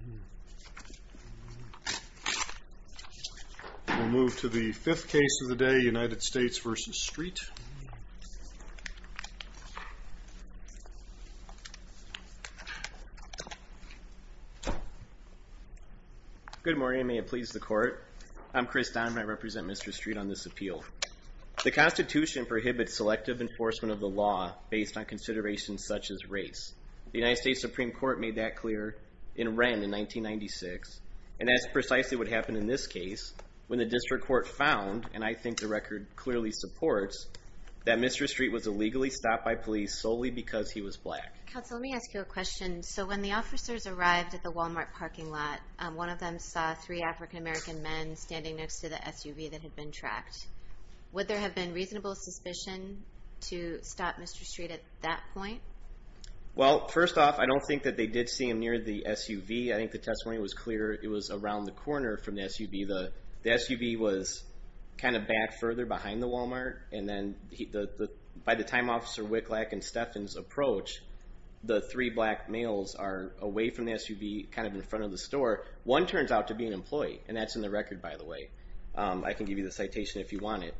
We'll move to the fifth case of the day, United States v. Street. Good morning. May it please the Court. I'm Chris Donovan. I represent Mr. Street on this appeal. The Constitution prohibits selective enforcement of the law based on considerations such as race. The United States Supreme Court made that clear in Wren in 1996. And that's precisely what happened in this case when the district court found, and I think the record clearly supports, that Mr. Street was illegally stopped by police solely because he was black. Counsel, let me ask you a question. So when the officers arrived at the Walmart parking lot, one of them saw three African-American men standing next to the SUV that had been tracked. Would there have been reasonable suspicion to stop Mr. Street at that point? Well, first off, I don't think that they did see him near the SUV. I think the testimony was clear it was around the corner from the SUV. The SUV was kind of back further behind the Walmart, and then by the time Officer Wicklack and Steffens approach, the three black males are away from the SUV, kind of in front of the store. One turns out to be an employee, and that's in the record, by the way. I can give you the citation if you want it.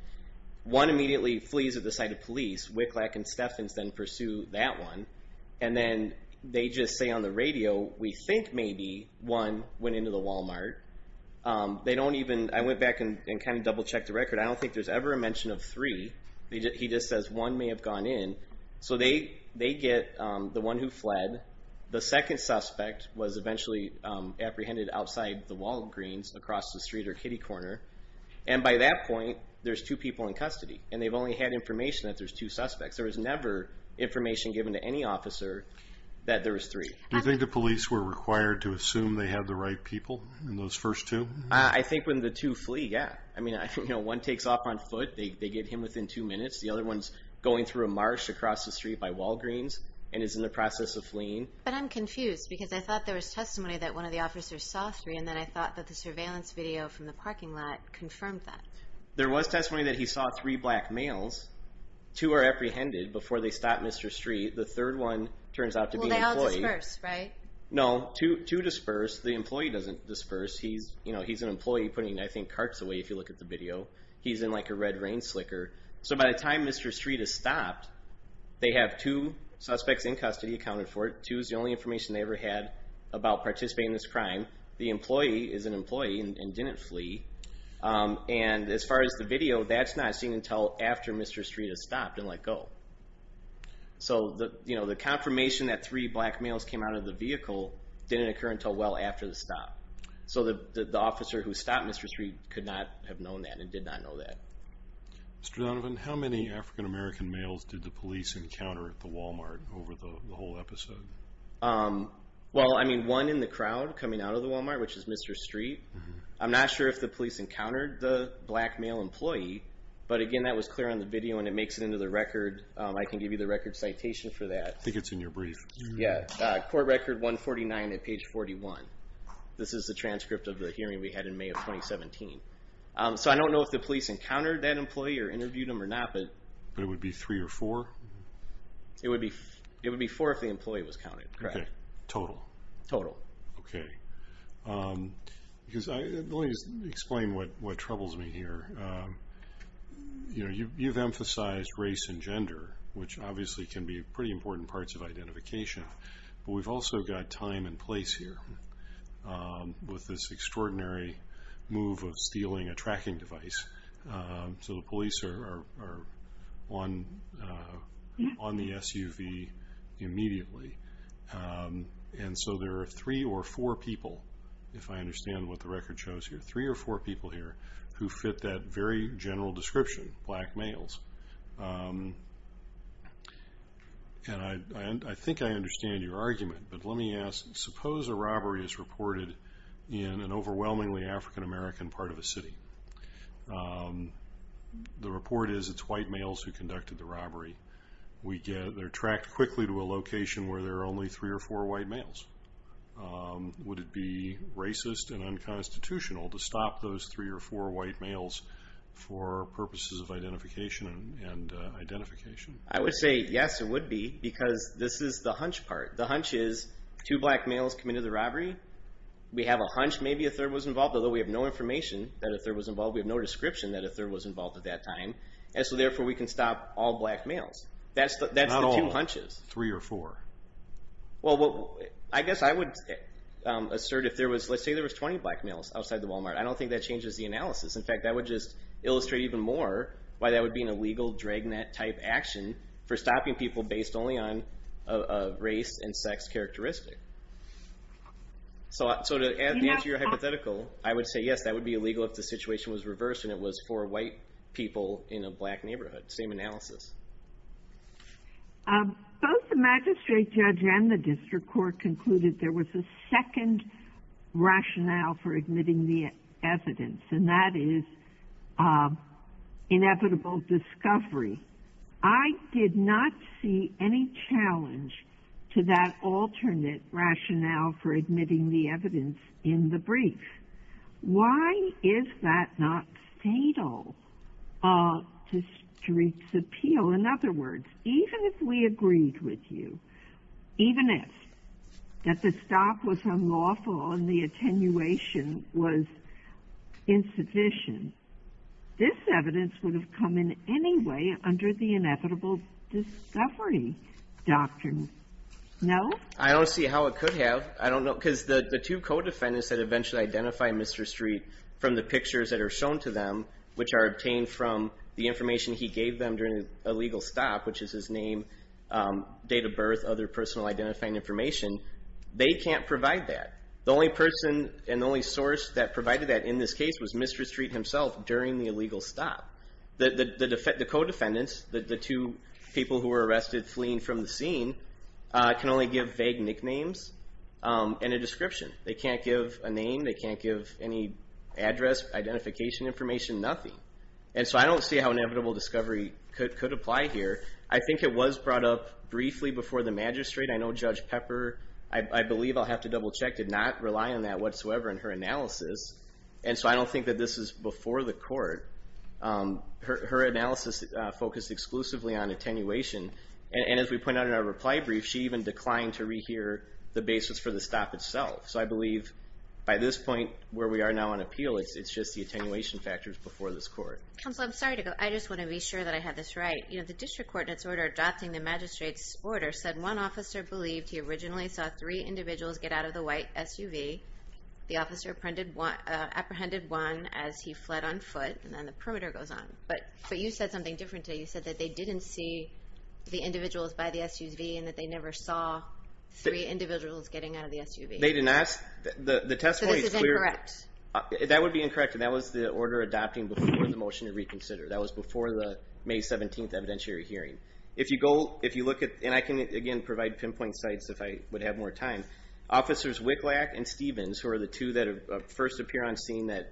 One immediately flees at the sight of police. Wicklack and Steffens then pursue that one, and then they just say on the radio, we think maybe one went into the Walmart. They don't even, I went back and kind of double-checked the record, I don't think there's ever a mention of three. He just says one may have gone in. So they get the one who fled. The second suspect was eventually apprehended outside the Walgreens, across the street or kitty corner. And by that point, there's two people in custody, and they've only had information that there's two suspects. There was never information given to any officer that there was three. Do you think the police were required to assume they had the right people in those first two? I think when the two flee, yeah. I mean, one takes off on foot, they get him within two minutes. The other one's going through a marsh across the street by Walgreens, and is in the process of fleeing. But I'm confused, because I thought there was testimony that one of the officers saw three, and then I thought that the surveillance video from the parking lot confirmed that. There was testimony that he saw three black males. Two are apprehended before they stop Mr. Street. The third one turns out to be an employee. Well, they all disperse, right? No, two disperse. The employee doesn't disperse. He's an employee putting, I think, carts away, if you look at the video. He's in like a red rain slicker. So by the time Mr. Street is stopped, they have two suspects in custody accounted for. Two is the only information they ever had about participating in this crime. The employee is an employee, and didn't flee. And as far as the video, that's not seen until after Mr. Street has stopped and let go. So the confirmation that three black males came out of the vehicle didn't occur until well after the stop. So the officer who stopped Mr. Street could not have known that, and did not know that. Mr. Donovan, how many African American males did the police encounter at the Walmart over the whole episode? Well, I mean, one in the crowd coming out of the Walmart, which is Mr. Street. I'm not sure if the police encountered the black male employee. But again, that was clear on the video, and it makes it into the record. I can give you the record citation for that. I think it's in your brief. Yeah. Court record 149 at page 41. This is the transcript of the hearing we had in May of 2017. So I don't know if the police encountered that employee, or interviewed him, or not. But it would be three or four? It would be four if the employee was counted, correct. Okay. Total? Total. Okay. Let me explain what troubles me here. You've emphasized race and gender, which obviously can be pretty important parts of identification. But we've also got time and place here, with this extraordinary move of stealing a tracking device. So the police are on the SUV immediately. And so there are three or four people, if I understand what the record shows here, three or four people here, who fit that very general description, black males. And I think I understand your argument, but let me ask, suppose a robbery is reported in an overwhelmingly African American part of a city. The report is it's white males who conducted the robbery. We get, they're tracked quickly to a location where there are only three or four white males. Would it be racist and unconstitutional to stop those three or four white males for purposes of identification and identification? I would say yes, it would be, because this is the hunch part. The hunch is two black males committed the robbery. We have a hunch maybe a third was involved, although we have no information that a third was involved. We have no description that a third was involved at that time. And so therefore, we can stop all black males. That's the two hunches. Not all, three or four. Well, I guess I would assert if there was, let's say there was 20 black males outside the Walmart. I don't think that changes the analysis. In fact, that would just illustrate even more why that would be an illegal dragnet type action for stopping people based only on a race and sex characteristic. So to answer your hypothetical, I would say yes, that would be illegal if the situation was reversed and it was four white people in a black neighborhood. Same analysis. Both the magistrate judge and the district court concluded there was a second rationale for admitting the evidence, and that is inevitable discovery. I did not see any challenge to that alternate rationale for admitting the evidence in the brief. Why is that not fatal to streets' appeal? In other words, even if we agreed with you, even if, that the stop was unlawful and the attenuation was insufficient, this evidence would have come in any way under the inevitable discovery doctrine. No? I don't see how it could have. I don't know. Because the two co-defendants that eventually identify Mr. Street from the pictures that stop, which is his name, date of birth, other personal identifying information, they can't provide that. The only person and the only source that provided that in this case was Mr. Street himself during the illegal stop. The co-defendants, the two people who were arrested fleeing from the scene, can only give vague nicknames and a description. They can't give a name, they can't give any address, identification information, nothing. And so I don't see how inevitable discovery could apply here. I think it was brought up briefly before the magistrate. I know Judge Pepper, I believe I'll have to double check, did not rely on that whatsoever in her analysis. And so I don't think that this is before the court. Her analysis focused exclusively on attenuation, and as we pointed out in our reply brief, she even declined to rehear the basis for the stop itself. So I believe by this point where we are now on appeal, it's just the attenuation factors before this court. Counsel, I'm sorry to go. I just want to be sure that I have this right. The district court in its order adopting the magistrate's order said one officer believed he originally saw three individuals get out of the white SUV. The officer apprehended one as he fled on foot, and then the perimeter goes on. But you said something different today. You said that they didn't see the individuals by the SUV and that they never saw three individuals getting out of the SUV. They didn't ask. The testimony is clear. So this is incorrect. That would be incorrect. And that was the order adopting before the motion to reconsider. That was before the May 17th evidentiary hearing. If you go, if you look at, and I can again provide pinpoint sites if I would have more time. Officers Wicklack and Stevens, who are the two that first appear on scene that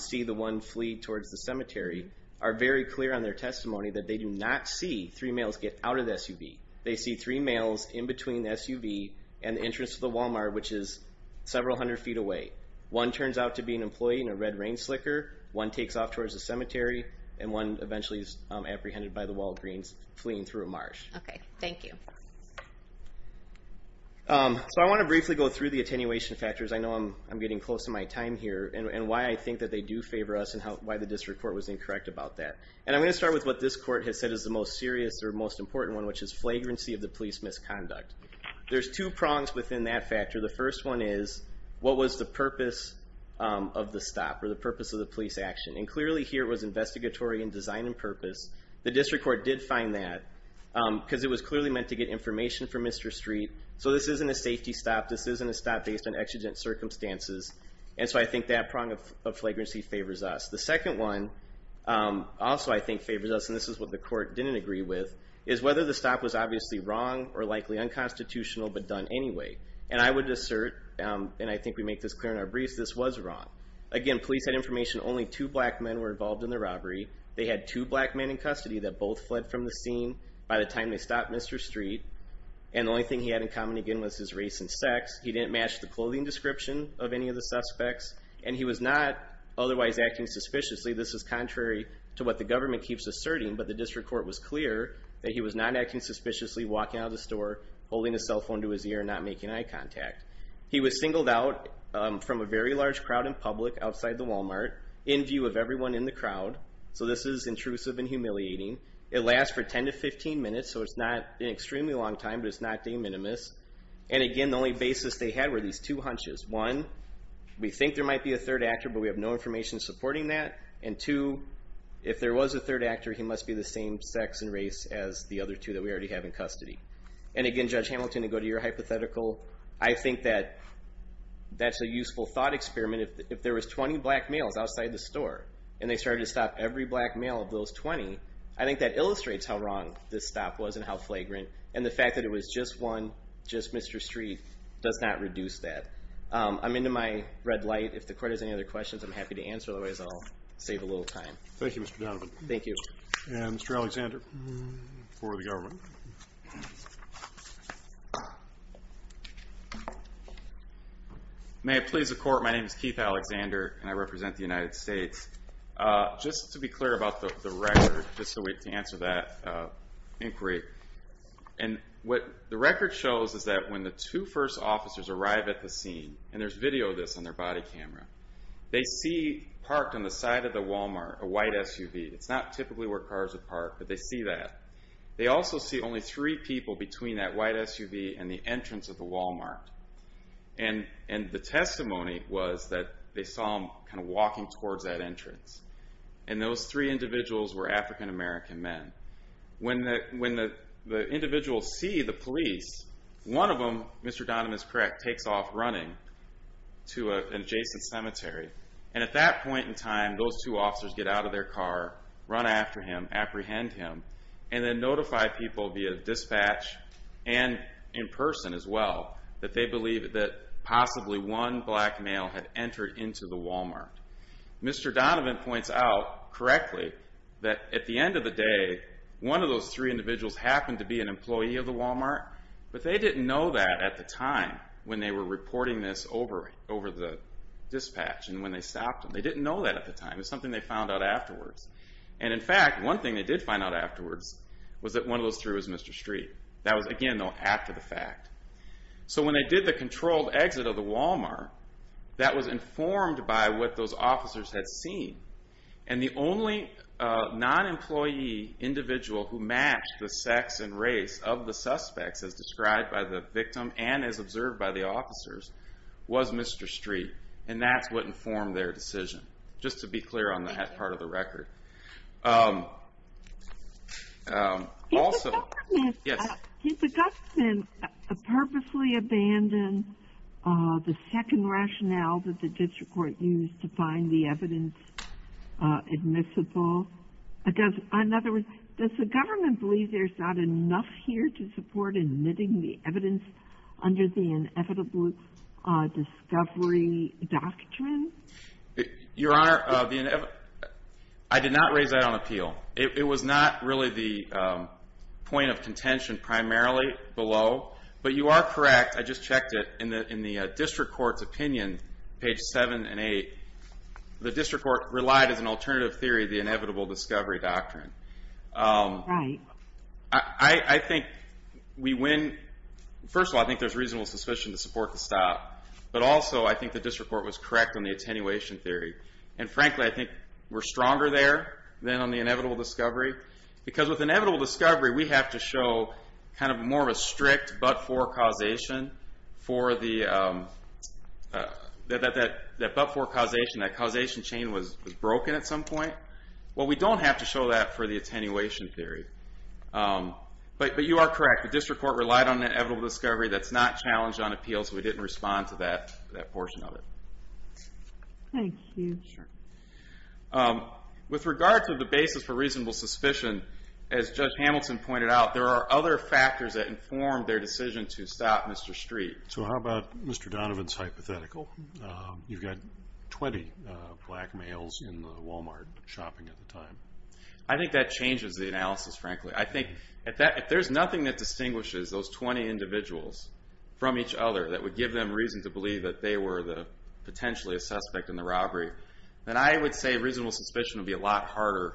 see the one flee towards the cemetery, are very clear on their testimony that they do not see three males get out of the SUV. They see three males in between the SUV and the entrance to the Walmart, which is several hundred feet away. One turns out to be an employee in a red rain slicker. One takes off towards the cemetery, and one eventually is apprehended by the Walgreens fleeing through a marsh. Okay. Thank you. So I want to briefly go through the attenuation factors. I know I'm getting close to my time here, and why I think that they do favor us and why the district court was incorrect about that. And I'm going to start with what this court has said is the most serious or most important one, which is flagrancy of the police misconduct. There's two prongs within that factor. The first one is, what was the purpose of the stop, or the purpose of the police action? And clearly here, it was investigatory in design and purpose. The district court did find that, because it was clearly meant to get information for Mr. Street. So this isn't a safety stop. This isn't a stop based on exigent circumstances. And so I think that prong of flagrancy favors us. The second one, also I think favors us, and this is what the court didn't agree with, is whether the stop was obviously wrong or likely unconstitutional, but done anyway. And I would assert, and I think we make this clear in our briefs, this was wrong. Again, police had information only two black men were involved in the robbery. They had two black men in custody that both fled from the scene by the time they stopped Mr. Street. And the only thing he had in common, again, was his race and sex. He didn't match the clothing description of any of the suspects. And he was not otherwise acting suspiciously. This is contrary to what the government keeps asserting. But the district court was clear that he was not acting suspiciously, walking out of the store, holding a cell phone to his ear, and not making eye contact. He was singled out from a very large crowd in public outside the Walmart, in view of everyone in the crowd. So this is intrusive and humiliating. It lasts for 10 to 15 minutes, so it's not an extremely long time, but it's not de minimis. And again, the only basis they had were these two hunches. One, we think there might be a third actor, but we have no information supporting that. And two, if there was a third actor, he must be the same sex and race as the other two that we already have in custody. And again, Judge Hamilton, to go to your hypothetical, I think that that's a useful thought experiment. If there was 20 black males outside the store, and they started to stop every black male of those 20, I think that illustrates how wrong this stop was and how flagrant. And the fact that it was just one, just Mr. Street, does not reduce that. I'm into my red light. If the court has any other questions, I'm happy to answer. Otherwise, I'll save a little time. Thank you, Mr. Donovan. Thank you. And Mr. Alexander, for the government. May it please the court, my name is Keith Alexander, and I represent the United States. Just to be clear about the record, just so we can answer that inquiry. And what the record shows is that when the two first officers arrive at the scene, and there's video of this on their body camera, they see parked on the side of the Walmart a white SUV. It's not typically where cars are parked, but they see that. They also see only three people between that white SUV and the entrance of the Walmart. And the testimony was that they saw him walking towards that entrance. And those three individuals were African-American men. When the individuals see the police, one of them, Mr. Donovan is correct, takes off running to an adjacent cemetery. And at that point in time, those two officers get out of their car, run after him, apprehend him, and then notify people via dispatch and in person as well that they believe that possibly one black male had entered into the Walmart. Mr. Donovan points out correctly that at the end of the day, one of those three individuals happened to be an employee of the Walmart, but they didn't know that at the time when they were reporting this over the dispatch and when they stopped him. They didn't know that at the time. It was something they found out afterwards. And in fact, one thing they did find out afterwards was that one of those three was Mr. Street. That was, again, though, after the fact. So when they did the controlled exit of the Walmart, that was informed by what those officers had seen. And the only non-employee individual who matched the sex and race of the suspects as described by the victim and as observed by the officers was Mr. Street. And that's what informed their decision. Just to be clear on that part of the record. Also, yes? Did the government purposely abandon the second rationale that the district court used to find the evidence admissible? In other words, does the government believe there's not enough here to support admitting the evidence under the inevitable discovery doctrine? Your Honor, I did not raise that on appeal. It was not really the point of contention primarily below. But you are correct. I just checked it. In the district court's opinion, page seven and eight, the district court relied as an alternative theory of the inevitable discovery doctrine. All right. I think we win. First of all, I think there's reasonable suspicion to support the stop. But also, I think the district court was correct on the attenuation theory. And frankly, I think we're stronger there than on the inevitable discovery. Because with inevitable discovery, we have to show kind of more of a strict but-for causation for the, that but-for causation, that causation chain was broken at some point. Well, we don't have to show that for the attenuation theory. But you are correct. The district court relied on the inevitable discovery. That's not challenged on appeal. So we didn't respond to that portion of it. Thank you. With regard to the basis for reasonable suspicion, as Judge Hamilton pointed out, there are other factors that informed their decision to stop Mr. Street. So how about Mr. Donovan's hypothetical? You've got 20 black males in the Walmart shopping at the time. I think that changes the analysis, frankly. I think if there's nothing that distinguishes those 20 individuals from each other that would give them reason to believe that they were potentially a suspect in the robbery, then I would say reasonable suspicion would be a lot harder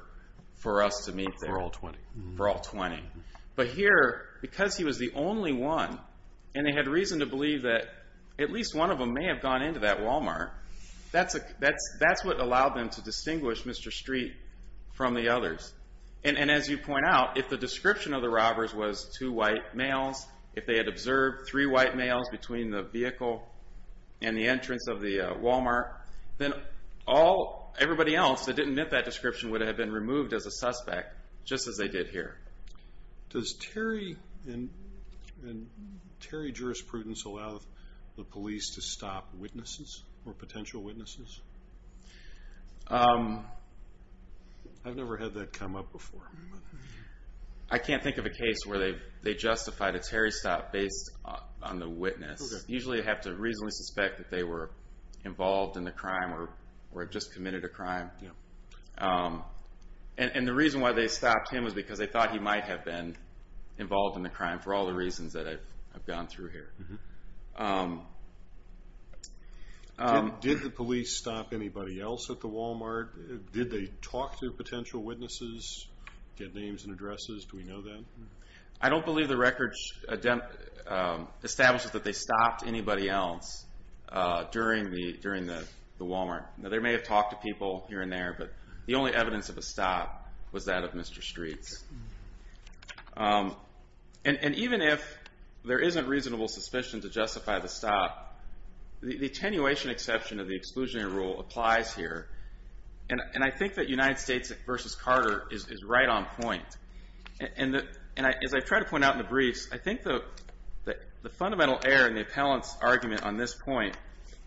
for us to meet there. For all 20. For all 20. But here, because he was the only one, and they had reason to believe that at one end of that Walmart, that's what allowed them to distinguish Mr. Street from the others. And as you point out, if the description of the robbers was two white males, if they had observed three white males between the vehicle and the entrance of the Walmart, then everybody else that didn't meet that description would have been removed as a suspect, just as they did here. Does Terry and Terry jurisprudence allow the police to stop witnesses, or potential witnesses? I've never had that come up before. I can't think of a case where they justified a Terry stop based on the witness. Usually they have to reasonably suspect that they were involved in the crime or had just committed a crime. And the reason why they stopped him was because they thought he might have been involved in the crime, for all the reasons that I've gone through here. Did the police stop anybody else at the Walmart? Did they talk to potential witnesses, get names and addresses? Do we know that? I don't believe the records establish that they stopped anybody else during the Walmart. They may have talked to people here and there, but the only evidence of a stop was that of Mr. Streets. And even if there isn't reasonable suspicion to justify the stop, the attenuation exception of the exclusionary rule applies here. And I think that United States versus Carter is right on point. And as I've tried to point out in the briefs, I think that the fundamental error in the appellant's argument on this point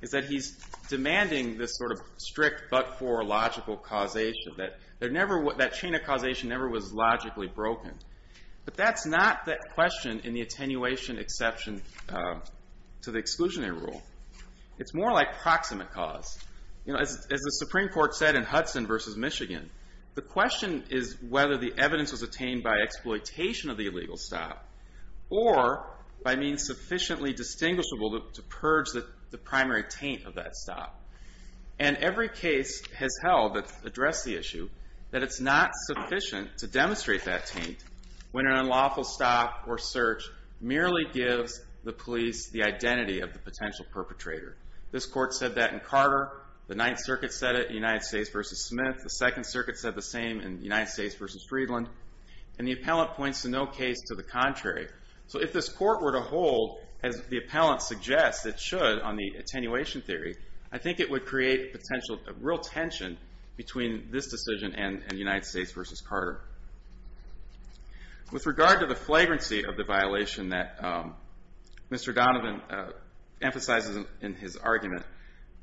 is that he's demanding this sort of strict but for logical causation, that that chain of causation never was logically broken. But that's not the question in the attenuation exception to the exclusionary rule. It's more like proximate cause. As the Supreme Court said in Hudson versus Michigan, the question is whether the evidence was attained by exploitation of the illegal stop or by means sufficiently distinguishable to purge the primary taint of that stop. And every case has held that address the issue that it's not sufficient to demonstrate that taint when an unlawful stop or search merely gives the police the identity of the potential perpetrator. This court said that in Carter. The Ninth Circuit said it in United States versus Smith. The Second Circuit said the same in United States versus Freedland. And the appellant points to no case to the contrary. So if this court were to hold, as the appellant suggests it should on the attenuation theory, I think it would create potential real tension between this decision and United States versus Carter. With regard to the flagrancy of the violation that Mr. Donovan emphasizes in his argument,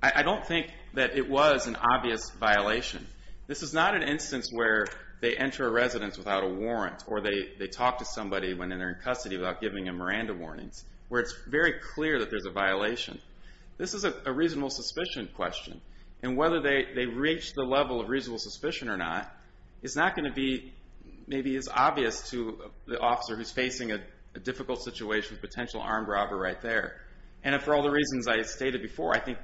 I don't think that it was an obvious violation. This is not an instance where they enter a residence without a warrant or they talk to somebody when they're in custody without giving them Miranda warnings. Where it's very clear that there's a violation. This is a reasonable suspicion question. And whether they reach the level of reasonable suspicion or not is not going to be maybe as obvious to the officer who's facing a difficult situation with a potential armed robber right there. And for all the reasons I stated before, I think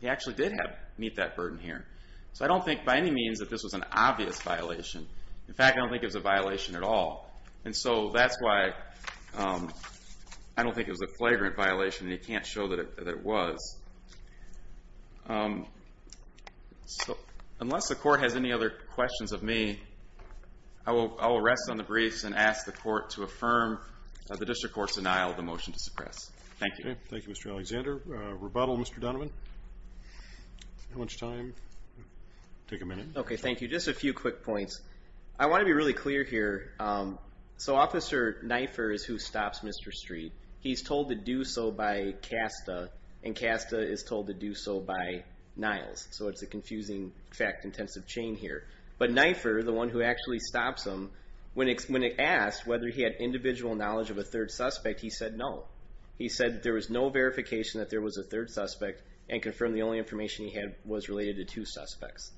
he actually did meet that burden here. So I don't think by any means that this was an obvious violation. In fact, I don't think it was a violation at all. And so that's why I don't think it was a flagrant violation and he can't show that it was. Unless the court has any other questions of me, I will rest on the briefs and ask the court to affirm the district court's denial of the motion to suppress. Thank you. Thank you, Mr. Alexander. Rebuttal, Mr. Donovan? How much time? Take a minute. OK, thank you. Just a few quick points. I want to be really clear here. So Officer Nifer is who stops Mr. Street. He's told to do so by Casta. And Casta is told to do so by Niles. So it's a confusing fact-intensive chain here. But Nifer, the one who actually stops him, when asked whether he had individual knowledge of a third suspect, he said no. He said there was no verification that there was a third suspect and confirmed the only information he had was related to two suspects.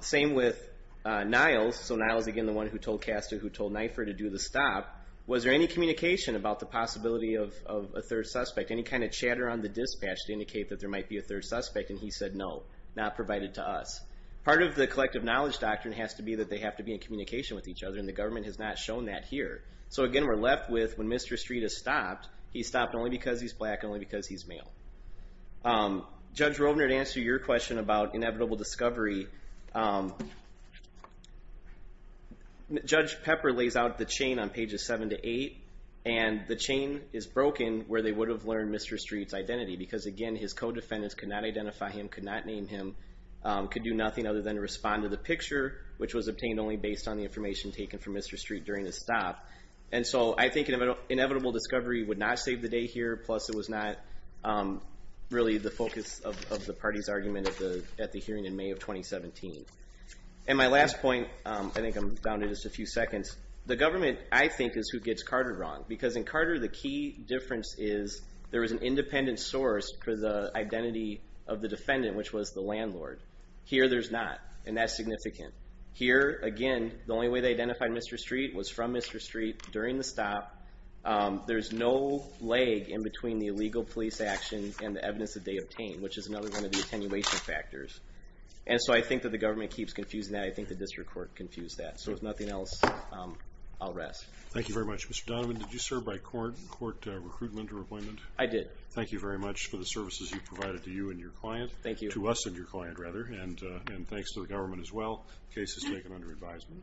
Same with Niles. So Niles, again, the one who told Casta, who told Nifer to do the stop. Was there any communication about the possibility of a third suspect? Any kind of chatter on the dispatch to indicate that there might be a third suspect? And he said no, not provided to us. Part of the collective knowledge doctrine has to be that they have to be in communication with each other. And the government has not shown that here. So again, we're left with, when Mr. Street is stopped, he's stopped only because he's black and only because he's male. Judge Rovner, to answer your question about inevitable discovery, Judge Pepper lays out the chain on pages 7 to 8. And the chain is broken where they would have learned Mr. Street's identity. Because again, his co-defendants could not identify him, could not name him, could do nothing other than respond to the picture, which was obtained only based on the information taken from Mr. Street during his stop. And so I think an inevitable discovery would not save the day here. Plus, it was not really the focus of the party's argument at the hearing in May of 2017. And my last point, I think I'm down to just a few seconds. The government, I think, is who gets Carter wrong. Because in Carter, the key difference is there is an independent source for the identity of the defendant, which was the landlord. Here there's not. And that's significant. Here, again, the only way they identified Mr. Street was from Mr. Street during the stop. There's no lag in between the illegal police action and the evidence that they obtained, which is another one of the attenuation factors. And so I think that the government keeps confusing that. I think the district court confused that. So if nothing else, I'll rest. Thank you very much. Mr. Donovan, did you serve by court, court recruitment or appointment? I did. Thank you very much for the services you provided to you and your client. Thank you. To us and your client, rather. And thanks to the government as well. Case is taken under advisement.